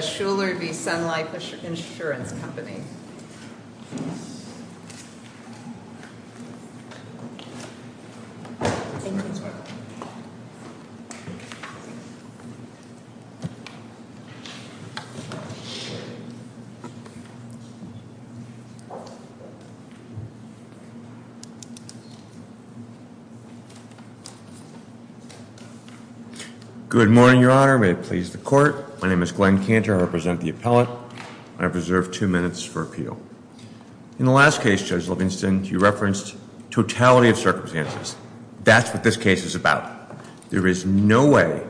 Shuler v. Sun Life Assurance Company Good morning, Your Honour. May it please the Court. My name is Glenn Cantor. I represent the appellate. I have reserved two minutes for appeals. In the last case, Judge Livingston, you referenced totality of circumstances. That's what this case is about. There is no way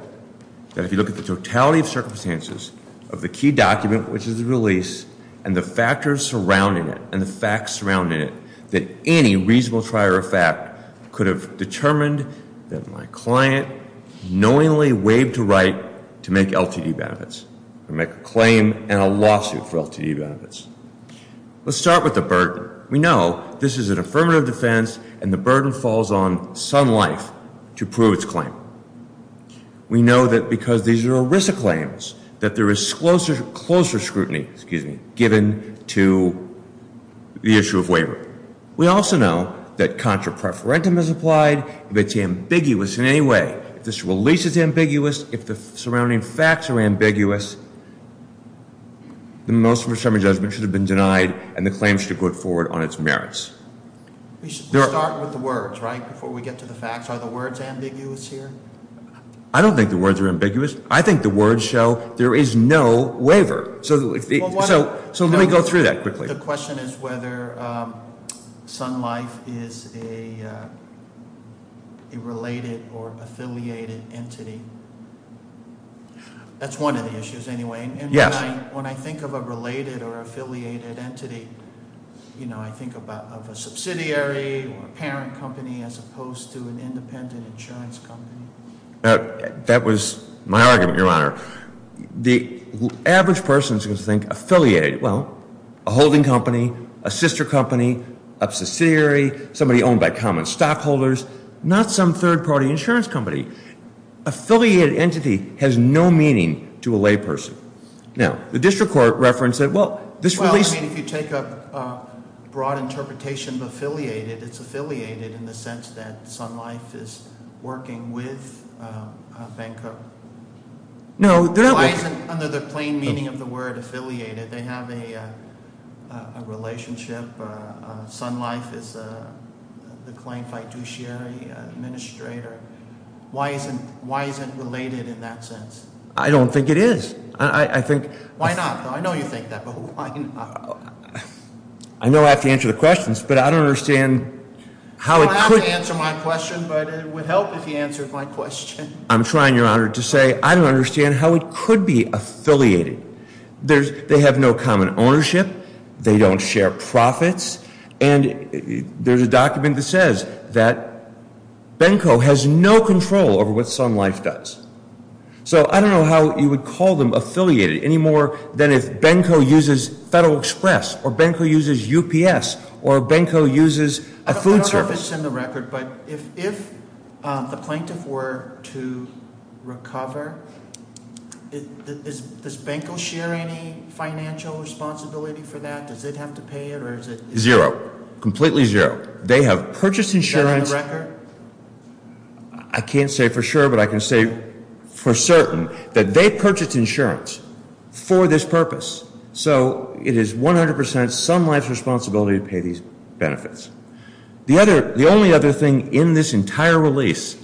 that if you look at the totality of circumstances of the key document, which is the release, and the factors surrounding it, and the facts surrounding it, that any reasonable trier of fact could have determined that my client knowingly waived a right to make LTD benefits, or make a claim and a lawsuit for LTD benefits. Let's start with the burden. We know this is an affirmative defense, and the burden falls on Sun Life to prove its claim. We know that because these are ERISA claims, that there is closer scrutiny given to the issue of waiver. We also know that contra preferentum is applied. If it's ambiguous in any way, if this release is ambiguous, if the surrounding facts are ambiguous, the motion for summary judgment should have been denied, and the claim should have gone forward on its merits. We start with the words, right, before we get to the facts. Are the words ambiguous here? I don't think the words are ambiguous. I think the words show there is no waiver. So let me go through that quickly. The question is whether Sun Life is a related or affiliated entity. That's one of the issues anyway. Yes. And when I think of a related or affiliated entity, you know, I think of a subsidiary or a parent company as opposed to an independent insurance company. That was my argument, Your Honor. The average person is going to think affiliated. Well, a holding company, a sister company, a subsidiary, somebody owned by common stockholders, not some third-party insurance company. Affiliated entity has no meaning to a layperson. Now, the district court referenced that, well, this release – affiliated, it's affiliated in the sense that Sun Life is working with Banco. No, they're not working – Why isn't, under the plain meaning of the word affiliated, they have a relationship? Sun Life is the claim fiduciary administrator. Why isn't related in that sense? I don't think it is. I think – Why not? I know you think that, but why not? I know I have to answer the questions, but I don't understand how it could – You don't have to answer my question, but it would help if you answered my question. I'm trying, Your Honor, to say I don't understand how it could be affiliated. They have no common ownership. They don't share profits. And there's a document that says that Banco has no control over what Sun Life does. So I don't know how you would call them affiliated any more than if Banco uses Federal Express or Banco uses UPS or Banco uses a food service. I don't know if it's in the record, but if the plaintiff were to recover, does Banco share any financial responsibility for that? Does it have to pay it or is it – Zero. Completely zero. Is that in the record? I can't say for sure, but I can say for certain that they purchased insurance for this purpose. So it is 100 percent Sun Life's responsibility to pay these benefits. The only other thing in this entire release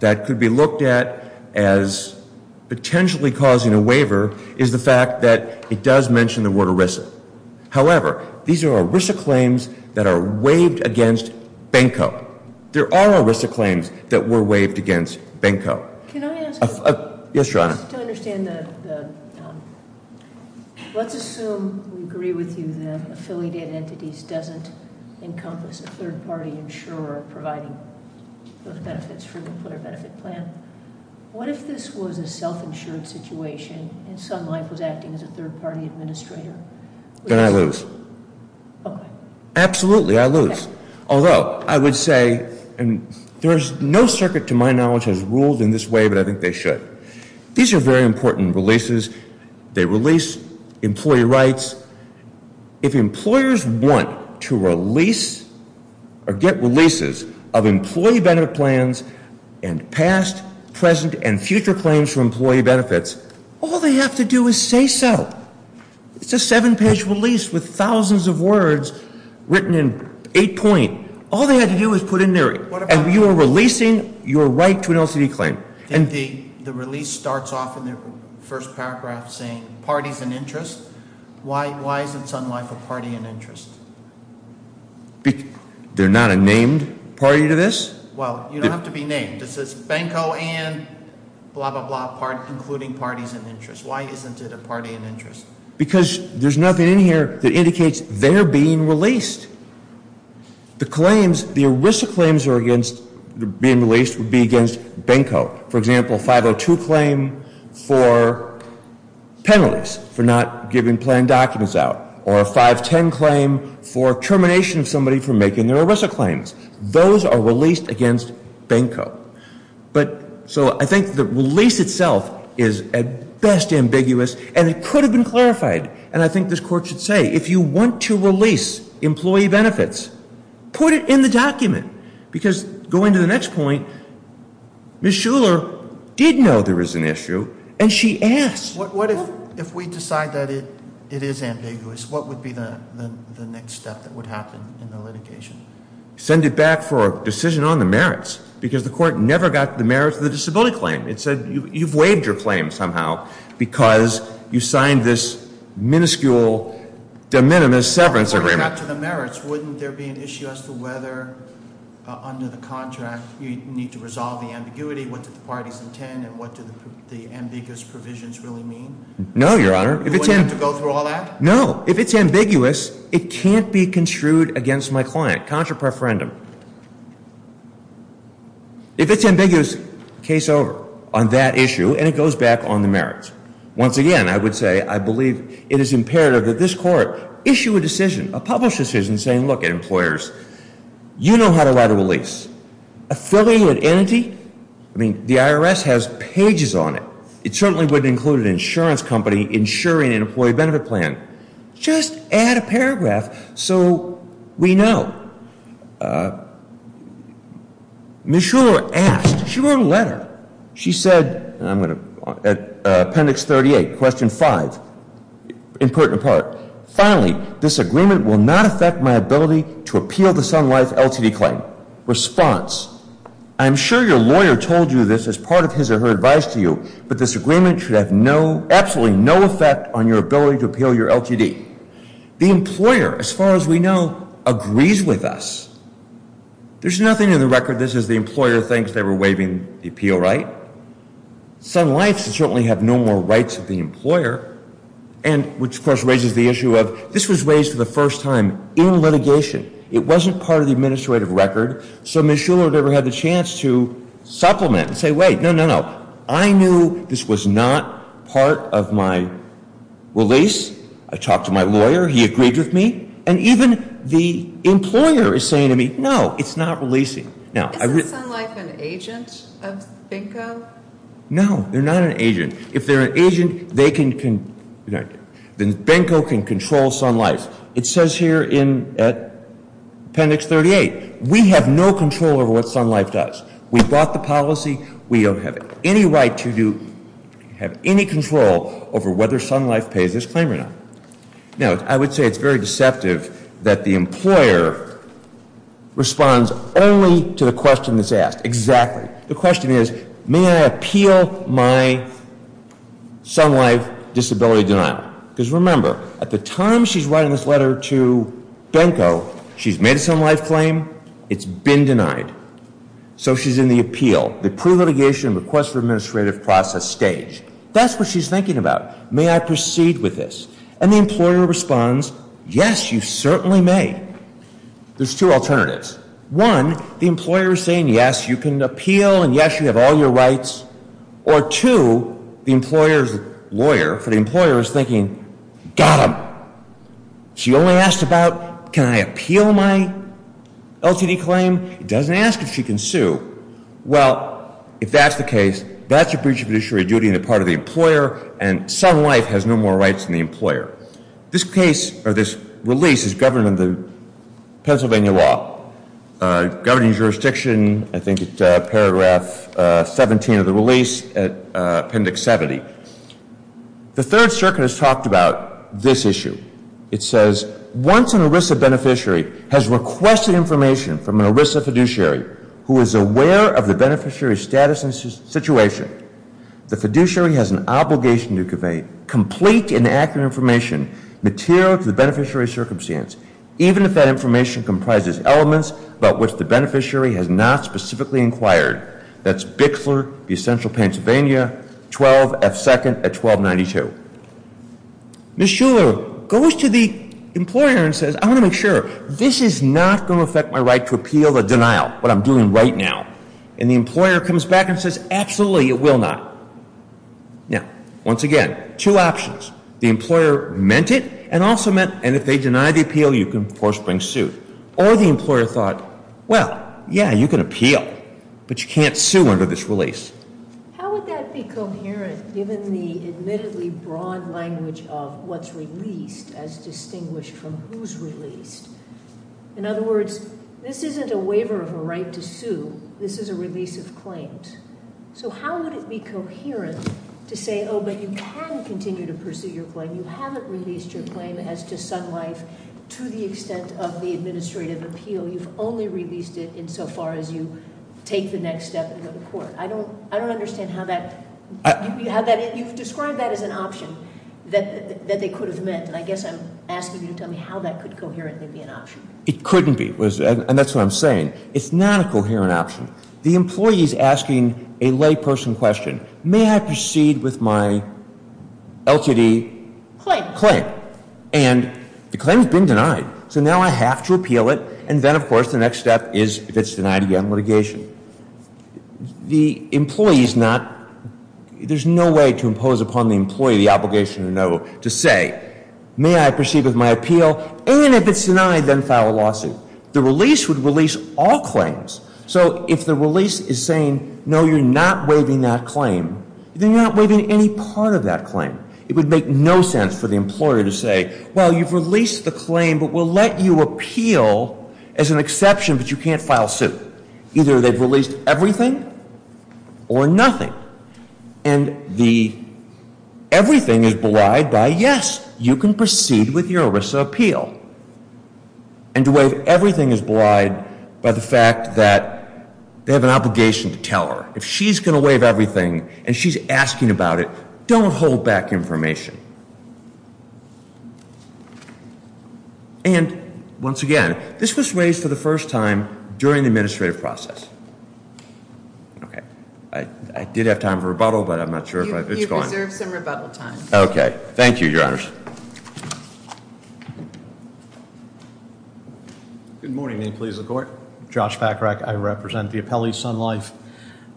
that could be looked at as potentially causing a waiver is the fact that it does mention the word ERISA. However, these are ERISA claims that are waived against Banco. There are ERISA claims that were waived against Banco. Can I ask a question? Yes, Your Honor. Just to understand the – let's assume we agree with you that affiliated entities doesn't encompass a third-party insurer providing those benefits for the employer benefit plan. What if this was a self-insured situation and Sun Life was acting as a third-party administrator? Then I lose. Okay. Absolutely, I lose. Although, I would say – and there is no circuit to my knowledge has ruled in this way, but I think they should. These are very important releases. They release employee rights. If employers want to release or get releases of employee benefit plans and past, present, and future claims for employee benefits, all they have to do is say so. It's a seven-page release with thousands of words written in eight-point. All they have to do is put in there. And you are releasing your right to an LCD claim. The release starts off in the first paragraph saying parties and interests. Why isn't Sun Life a party and interest? They're not a named party to this? Well, you don't have to be named. It says Banco and blah, blah, blah, including parties and interests. Why isn't it a party and interest? Because there's nothing in here that indicates they're being released. The claims, the ERISA claims being released would be against Banco. For example, a 502 claim for penalties for not giving plan documents out or a 510 claim for termination of somebody for making their ERISA claims. Those are released against Banco. So I think the release itself is at best ambiguous, and it could have been clarified. And I think this court should say, if you want to release employee benefits, put it in the document. Because going to the next point, Ms. Shuler did know there was an issue, and she asked. What if we decide that it is ambiguous? What would be the next step that would happen in the litigation? Send it back for a decision on the merits, because the court never got the merits of the disability claim. It said, you've waived your claim somehow because you signed this minuscule, de minimis severance agreement. According to the merits, wouldn't there be an issue as to whether under the contract you need to resolve the ambiguity? What do the parties intend, and what do the ambiguous provisions really mean? No, Your Honor. You wouldn't have to go through all that? No. If it's ambiguous, it can't be construed against my client. Contra preferendum. If it's ambiguous, case over on that issue, and it goes back on the merits. Once again, I would say I believe it is imperative that this court issue a decision, a published decision, saying, look, employers, you know how to write a release. Affiliated entity? I mean, the IRS has pages on it. It certainly wouldn't include an insurance company insuring an employee benefit plan. Just add a paragraph so we know. Ms. Shuler asked. She wrote a letter. She said, appendix 38, question 5, important part. Finally, this agreement will not affect my ability to appeal the Sun Life LTD claim. Response. I'm sure your lawyer told you this as part of his or her advice to you, but this agreement should have absolutely no effect on your ability to appeal your LTD. The employer, as far as we know, agrees with us. There's nothing in the record that says the employer thinks they were waiving the appeal right. Sun Life should certainly have no more rights of the employer, which, of course, raises the issue of this was raised for the first time in litigation. It wasn't part of the administrative record. So Ms. Shuler never had the chance to supplement and say, wait, no, no, no. I knew this was not part of my release. I talked to my lawyer. He agreed with me. And even the employer is saying to me, no, it's not releasing. Isn't Sun Life an agent of Benko? No, they're not an agent. If they're an agent, they can ‑‑ Benko can control Sun Life. It says here in appendix 38, we have no control over what Sun Life does. We bought the policy. We don't have any right to have any control over whether Sun Life pays this claim or not. Now, I would say it's very deceptive that the employer responds only to the question that's asked. Exactly. The question is, may I appeal my Sun Life disability denial? Because remember, at the time she's writing this letter to Benko, she's made a Sun Life claim. It's been denied. So she's in the appeal, the pre-litigation request for administrative process stage. That's what she's thinking about. May I proceed with this? And the employer responds, yes, you certainly may. There's two alternatives. One, the employer is saying, yes, you can appeal and, yes, you have all your rights. Or two, the employer's lawyer, for the employer, is thinking, got them. She only asked about, can I appeal my LTD claim? It doesn't ask if she can sue. Well, if that's the case, that's a breach of judiciary duty on the part of the employer, and Sun Life has no more rights than the employer. This case, or this release, is governed in the Pennsylvania law. Governing jurisdiction, I think it's paragraph 17 of the release, appendix 70. The Third Circuit has talked about this issue. It says, once an ERISA beneficiary has requested information from an ERISA fiduciary who is aware of the beneficiary's status and situation, the fiduciary has an obligation to convey complete and accurate information material to the beneficiary's circumstance, even if that information comprises elements about which the beneficiary has not specifically inquired. That's Bixler v. Central Pennsylvania, 12 F. 2nd at 1292. Ms. Shuler goes to the employer and says, I want to make sure. This is not going to affect my right to appeal the denial, what I'm doing right now. And the employer comes back and says, absolutely, it will not. Now, once again, two options. The employer meant it and also meant, and if they deny the appeal, you can, of course, bring suit. Or the employer thought, well, yeah, you can appeal, but you can't sue under this release. How would that be coherent given the admittedly broad language of what's released as distinguished from who's released? In other words, this isn't a waiver of a right to sue. This is a release of claims. So how would it be coherent to say, oh, but you can continue to pursue your claim. You haven't released your claim as to some life to the extent of the administrative appeal. You've only released it insofar as you take the next step and go to court. I don't understand how that, you've described that as an option that they could have meant, and I guess I'm asking you to tell me how that could coherently be an option. It couldn't be, and that's what I'm saying. It's not a coherent option. The employee is asking a layperson question. May I proceed with my LTD claim? And the claim has been denied. So now I have to appeal it, and then, of course, the next step is, if it's denied again, litigation. The employee is not, there's no way to impose upon the employee the obligation to say, may I proceed with my appeal, and if it's denied, then file a lawsuit. The release would release all claims. So if the release is saying, no, you're not waiving that claim, then you're not waiving any part of that claim. It would make no sense for the employer to say, well, you've released the claim, but we'll let you appeal as an exception, but you can't file suit. Either they've released everything or nothing. And the everything is belied by, yes, you can proceed with your ERISA appeal. And to waive everything is belied by the fact that they have an obligation to tell her. If she's going to waive everything and she's asking about it, don't hold back information. And, once again, this was raised for the first time during the administrative process. I did have time for rebuttal, but I'm not sure if it's gone. You've reserved some rebuttal time. Okay. Thank you, Your Honors. Good morning, employees of the court. Josh Packrack. I represent the appellee, Sun Life.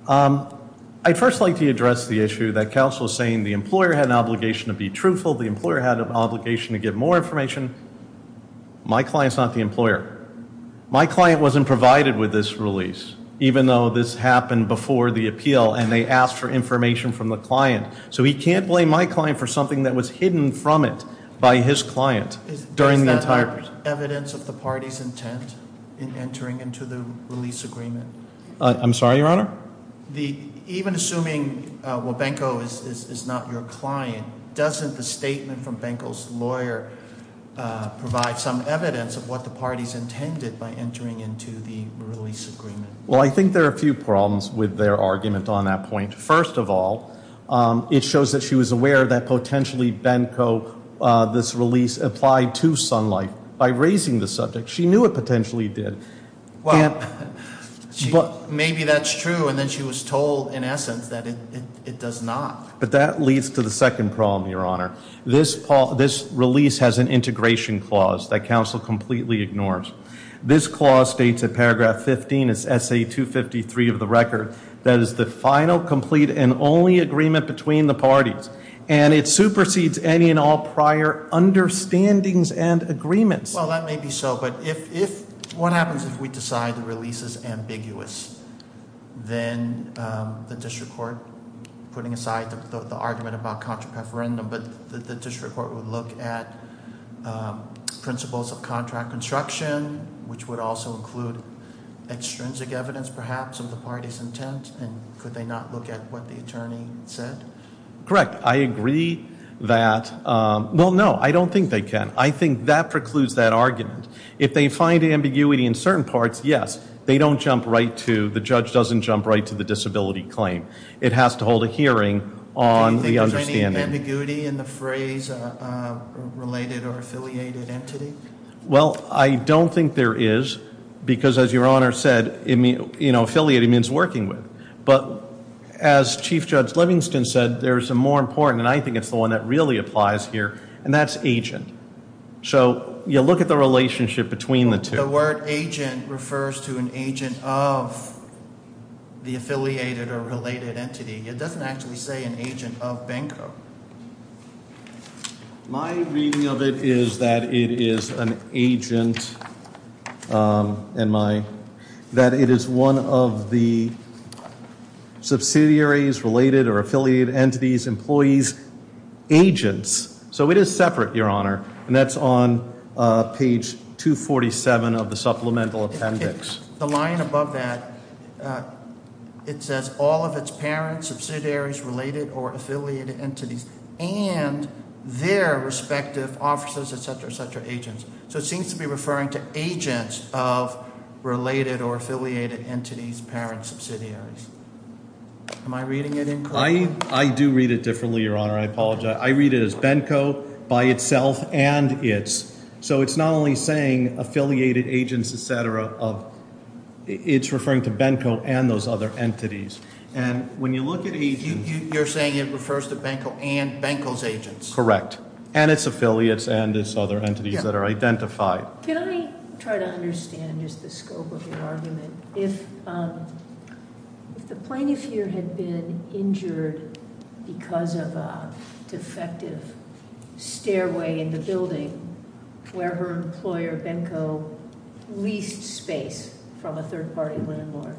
I'd first like to address the issue that counsel is saying the employer had an obligation to be truthful. The employer had an obligation to give more information. My client's not the employer. My client wasn't provided with this release, even though this happened before the appeal, and they asked for information from the client. So he can't blame my client for something that was hidden from it by his client during the entire process. Is that evidence of the party's intent in entering into the release agreement? I'm sorry, Your Honor? Even assuming Wabenko is not your client, doesn't the statement from Wabenko's lawyer provide some evidence of what the party's intended by entering into the release agreement? Well, I think there are a few problems with their argument on that point. First of all, it shows that she was aware that potentially Benko, this release, applied to Sun Life by raising the subject. She knew it potentially did. Well, maybe that's true, and then she was told, in essence, that it does not. But that leads to the second problem, Your Honor. This release has an integration clause that counsel completely ignores. This clause states in paragraph 15, it's SA 253 of the record. That is the final, complete, and only agreement between the parties. And it supersedes any and all prior understandings and agreements. Well, that may be so, but what happens if we decide the release is ambiguous? Then the district court, putting aside the argument about contra preferendum, but the district court would look at principles of contract construction, which would also include extrinsic evidence, perhaps, of the party's intent. And could they not look at what the attorney said? Correct. I agree that, well, no, I don't think they can. I think that precludes that argument. If they find ambiguity in certain parts, yes, they don't jump right to, the judge doesn't jump right to the disability claim. It has to hold a hearing on the understanding. Is there ambiguity in the phrase related or affiliated entity? Well, I don't think there is, because as Your Honor said, affiliated means working with. But as Chief Judge Livingston said, there's a more important, and I think it's the one that really applies here, and that's agent. So you look at the relationship between the two. The word agent refers to an agent of the affiliated or related entity. It doesn't actually say an agent of Benko. My reading of it is that it is an agent, that it is one of the subsidiaries, related or affiliated entities, employees, agents. So it is separate, Your Honor, and that's on page 247 of the supplemental appendix. The line above that, it says all of its parents, subsidiaries, related or affiliated entities, and their respective offices, et cetera, et cetera, agents. So it seems to be referring to agents of related or affiliated entities, parents, subsidiaries. Am I reading it incorrectly? I do read it differently, Your Honor. I apologize. I read it as Benko by itself and its. So it's not only saying affiliated agents, et cetera, it's referring to Benko and those other entities. And when you look at agents- You're saying it refers to Benko and Benko's agents? Correct. And its affiliates and its other entities that are identified. Can I try to understand just the scope of your argument? If the plaintiff here had been injured because of a defective stairway in the building where her employer, Benko, leased space from a third-party landlord,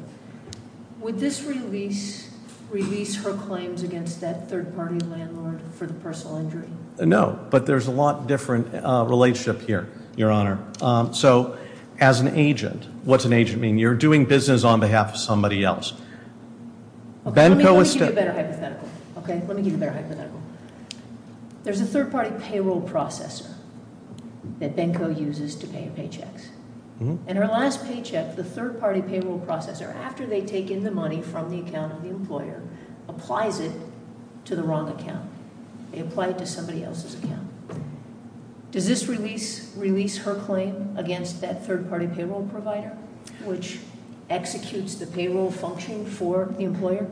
would this release her claims against that third-party landlord for the personal injury? No. But there's a lot different relationship here, Your Honor. So as an agent, what's an agent mean? You're doing business on behalf of somebody else. Benko is- Let me give you a better hypothetical. Okay? Let me give you a better hypothetical. There's a third-party payroll processor that Benko uses to pay her paychecks. And her last paycheck, the third-party payroll processor, after they take in the money from the account of the employer, applies it to the wrong account. They apply it to somebody else's account. Does this release her claim against that third-party payroll provider, which executes the payroll function for the employer?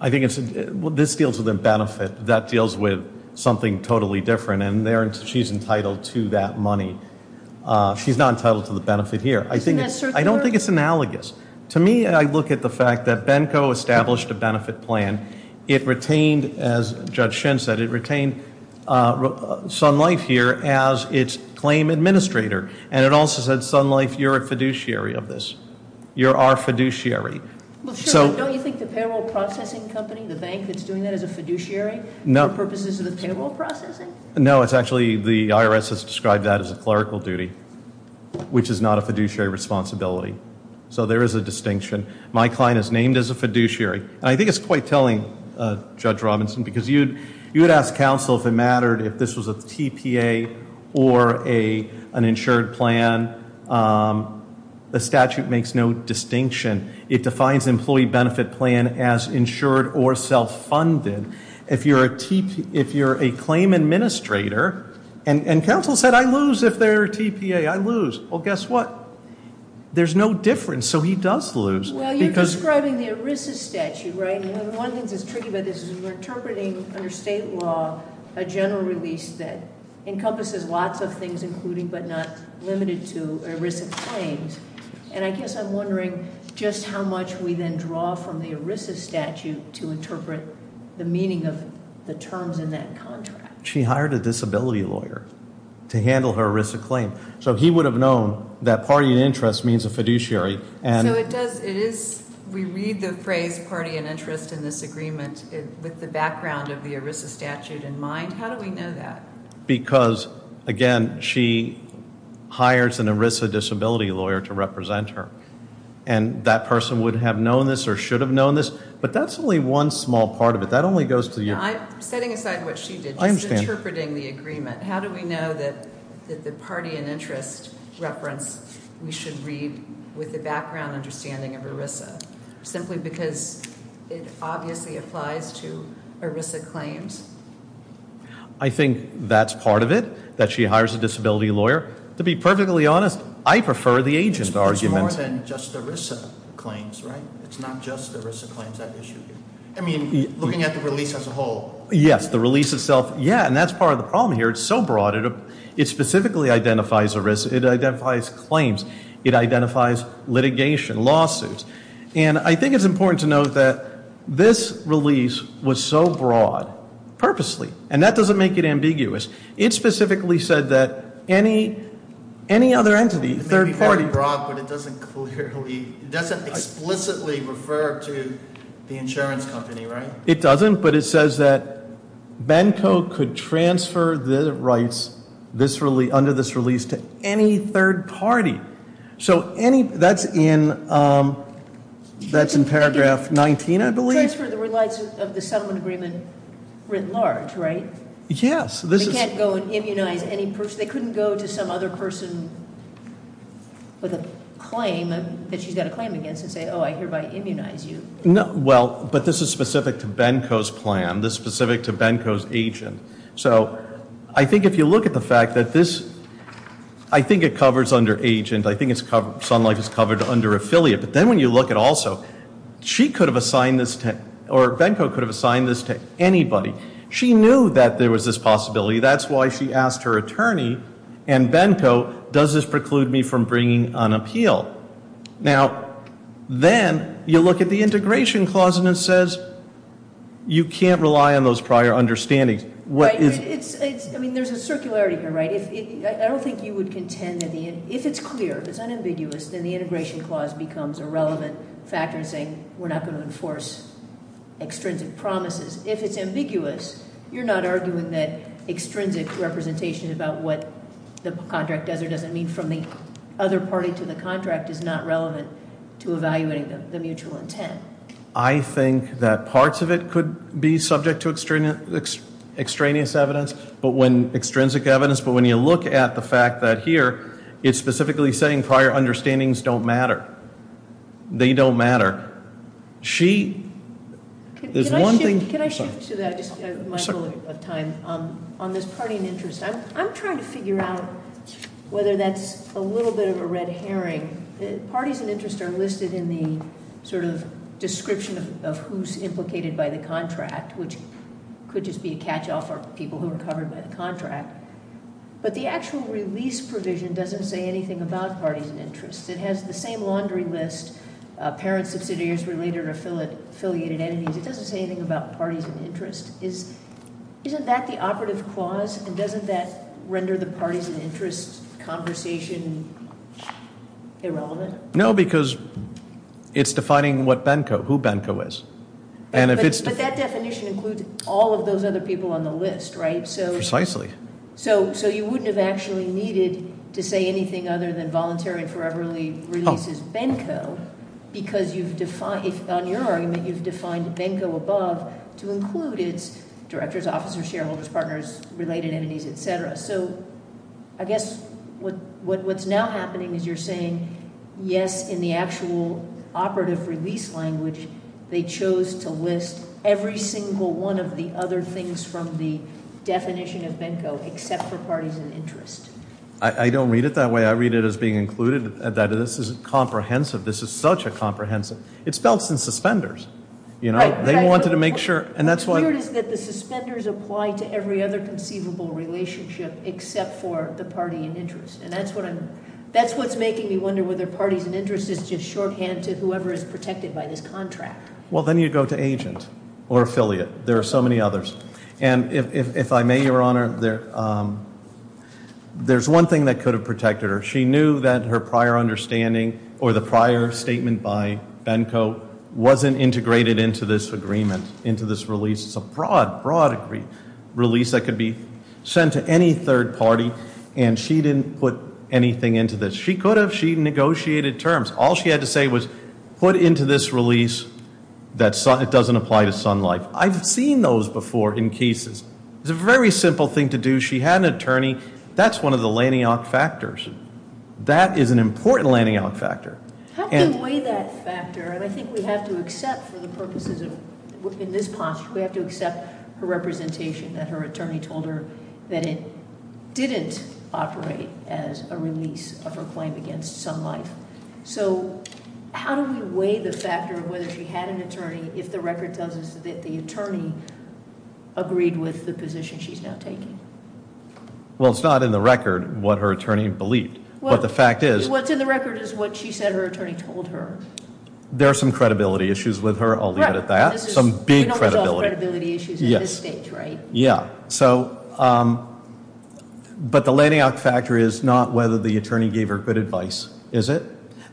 I think this deals with a benefit. That deals with something totally different. And she's entitled to that money. She's not entitled to the benefit here. Isn't that circular? I don't think it's analogous. To me, I look at the fact that Benko established a benefit plan. It retained, as Judge Shin said, it retained Sun Life here as its claim administrator. And it also said, Sun Life, you're a fiduciary of this. You're our fiduciary. Well, sure, but don't you think the payroll processing company, the bank that's doing that, is a fiduciary for purposes of the payroll processing? No, it's actually the IRS has described that as a clerical duty, which is not a fiduciary responsibility. So there is a distinction. My client is named as a fiduciary. And I think it's quite telling, Judge Robinson, because you would ask counsel if it mattered if this was a TPA or an insured plan. The statute makes no distinction. It defines employee benefit plan as insured or self-funded. If you're a claim administrator, and counsel said, I lose if they're a TPA, I lose. Well, guess what? There's no difference. So he does lose. Well, you're describing the ERISA statute, right? And one of the things that's tricky about this is we're interpreting under state law a general release that encompasses lots of things, including but not limited to ERISA claims. And I guess I'm wondering just how much we then draw from the ERISA statute to interpret the meaning of the terms in that contract. She hired a disability lawyer to handle her ERISA claim. So he would have known that party and interest means a fiduciary. So it does. It is. We read the phrase party and interest in this agreement with the background of the ERISA statute in mind. How do we know that? Because, again, she hires an ERISA disability lawyer to represent her. And that person would have known this or should have known this. But that's only one small part of it. That only goes to the ear. I'm setting aside what she did. I understand. Just interpreting the agreement. How do we know that the party and interest reference we should read with the background understanding of ERISA? Simply because it obviously applies to ERISA claims? I think that's part of it, that she hires a disability lawyer. To be perfectly honest, I prefer the agent argument. It's more than just ERISA claims, right? It's not just ERISA claims that issue. I mean, looking at the release as a whole. Yes, the release itself. Yeah, and that's part of the problem here. It's so broad. It specifically identifies ERISA. It identifies claims. It identifies litigation, lawsuits. And I think it's important to note that this release was so broad purposely. And that doesn't make it ambiguous. It specifically said that any other entity, third party. It may be very broad, but it doesn't clearly, it doesn't explicitly refer to the insurance company, right? It doesn't, but it says that Benko could transfer the rights under this release to any third party. So that's in paragraph 19, I believe. Transfer the rights of the settlement agreement writ large, right? Yes. They can't go and immunize any person. They couldn't go to some other person with a claim that she's got a claim against and say, oh, I hereby immunize you. Well, but this is specific to Benko's plan. This is specific to Benko's agent. So I think if you look at the fact that this, I think it covers under agent. I think Sun Life is covered under affiliate. But then when you look at also, she could have assigned this to, or Benko could have assigned this to anybody. She knew that there was this possibility. That's why she asked her attorney and Benko, does this preclude me from bringing an appeal? Now, then you look at the integration clause and it says you can't rely on those prior understandings. Right. I mean, there's a circularity here, right? I don't think you would contend that the, if it's clear, if it's unambiguous, then the integration clause becomes a relevant factor in saying we're not going to enforce extrinsic promises. If it's ambiguous, you're not arguing that extrinsic representation about what the contract does or doesn't mean from the other party to the contract is not relevant to evaluating the mutual intent. I think that parts of it could be subject to extraneous evidence. But when, extrinsic evidence, but when you look at the fact that here, it's specifically saying prior understandings don't matter. They don't matter. She, there's one thing- Can I shift to that just a minute of time on this party and interest? I'm trying to figure out whether that's a little bit of a red herring. Parties and interests are listed in the sort of description of who's implicated by the contract, which could just be a catch-off for people who are covered by the contract. But the actual release provision doesn't say anything about parties and interests. It has the same laundry list, parent, subsidiaries, related or affiliated entities. It doesn't say anything about parties and interests. Isn't that the operative clause? And doesn't that render the parties and interests conversation irrelevant? No, because it's defining what Benco, who Benco is. But that definition includes all of those other people on the list, right? Precisely. So you wouldn't have actually needed to say anything other than voluntary and foreverly releases Benco, because you've defined, on your argument, you've defined Benco above to include its directors, officers, shareholders, partners, related entities, et cetera. So I guess what's now happening is you're saying, yes, in the actual operative release language, they chose to list every single one of the other things from the definition of Benco except for parties and interest. I don't read it that way. I read it as being included. This isn't comprehensive. This is such a comprehensive. It's spelled since suspenders. They wanted to make sure, and that's why. What's weird is that the suspenders apply to every other conceivable relationship except for the party and interest. And that's what's making me wonder whether parties and interest is just shorthand to whoever is protected by this contract. Well, then you go to agent or affiliate. There are so many others. And if I may, Your Honor, there's one thing that could have protected her. She knew that her prior understanding or the prior statement by Benco wasn't integrated into this agreement, into this release. It's a broad, broad release that could be sent to any third party, and she didn't put anything into this. She could have. She negotiated terms. All she had to say was put into this release that it doesn't apply to Sun Life. I've seen those before in cases. She had an attorney. That's one of the lanyard factors. That is an important lanyard factor. How do you weigh that factor? And I think we have to accept for the purposes of, in this posture, we have to accept her representation that her attorney told her that it didn't operate as a release of her claim against Sun Life. So how do we weigh the factor of whether she had an attorney if the record tells us that the attorney agreed with the position she's now taking? Well, it's not in the record what her attorney believed. What the fact is- What's in the record is what she said her attorney told her. There are some credibility issues with her. I'll leave it at that. Some big credibility. We don't resolve credibility issues at this stage, right? Yeah. So, but the lanyard factor is not whether the attorney gave her good advice, is it?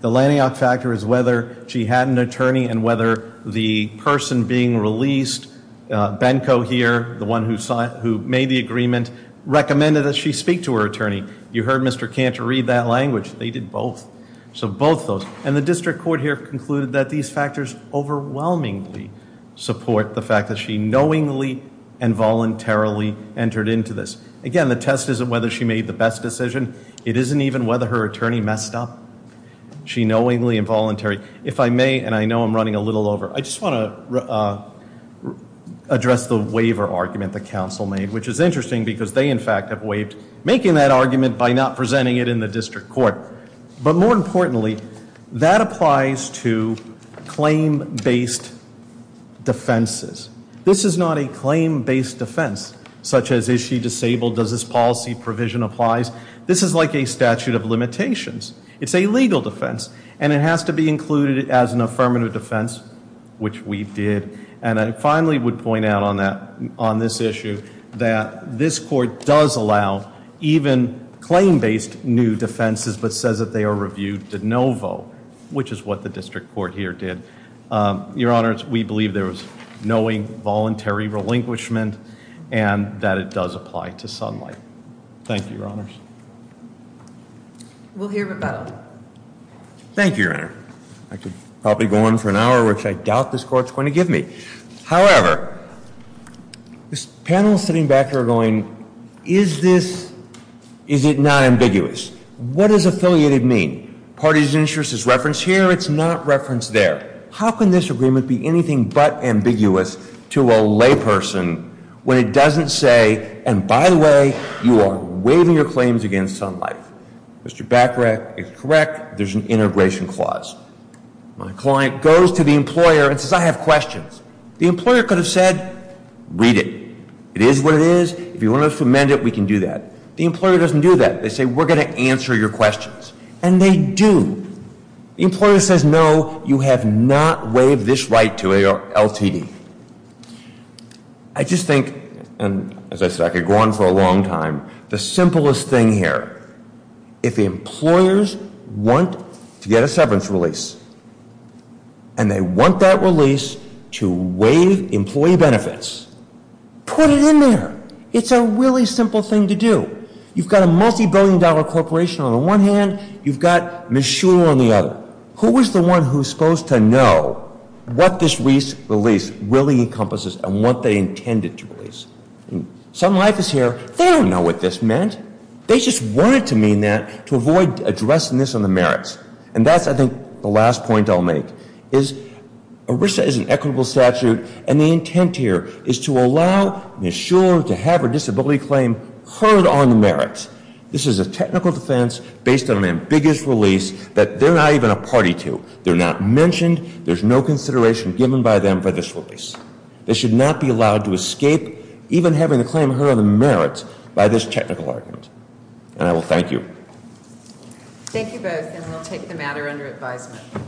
The lanyard factor is whether she had an attorney and whether the person being released, Benko here, the one who made the agreement, recommended that she speak to her attorney. You heard Mr. Cantor read that language. They did both. So both those. And the district court here concluded that these factors overwhelmingly support the fact that she knowingly and voluntarily entered into this. Again, the test isn't whether she made the best decision. It isn't even whether her attorney messed up. She knowingly and voluntarily. If I may, and I know I'm running a little over, I just want to address the waiver argument the council made, which is interesting because they, in fact, have waived making that argument by not presenting it in the district court. But more importantly, that applies to claim-based defenses. This is not a claim-based defense, such as is she disabled? Does this policy provision apply? This is like a statute of limitations. It's a legal defense, and it has to be included as an affirmative defense, which we did. And I finally would point out on this issue that this court does allow even claim-based new defenses, but says that they are reviewed de novo, which is what the district court here did. Your Honors, we believe there was knowing, voluntary relinquishment, and that it does apply to sunlight. Thank you, Your Honors. We'll hear rebuttal. Thank you, Your Honor. I could probably go on for an hour, which I doubt this court's going to give me. However, this panel sitting back here are going, is this, is it not ambiguous? What does affiliated mean? Part of the interest is referenced here. It's not referenced there. How can this agreement be anything but ambiguous to a layperson when it doesn't say, and by the way, you are waiving your claims against sunlight. Mr. Bachrach is correct. There's an integration clause. My client goes to the employer and says, I have questions. The employer could have said, read it. It is what it is. If you want to amend it, we can do that. The employer doesn't do that. They say, we're going to answer your questions. And they do. The employer says, no, you have not waived this right to LTD. I just think, and as I said, I could go on for a long time. The simplest thing here, if employers want to get a severance release, and they want that release to waive employee benefits, put it in there. It's a really simple thing to do. You've got a multi-billion dollar corporation on the one hand. You've got Ms. Shuler on the other. But who is the one who is supposed to know what this release really encompasses and what they intended to release? Sun Life is here. They don't know what this meant. They just wanted to mean that to avoid addressing this on the merits. And that's, I think, the last point I'll make, is ERISA is an equitable statute, and the intent here is to allow Ms. Shuler to have her disability claim heard on the merits. This is a technical defense based on an ambiguous release that they're not even a party to. They're not mentioned. There's no consideration given by them for this release. They should not be allowed to escape even having the claim heard on the merits by this technical argument. And I will thank you. Thank you both, and we'll take the matter under advisement.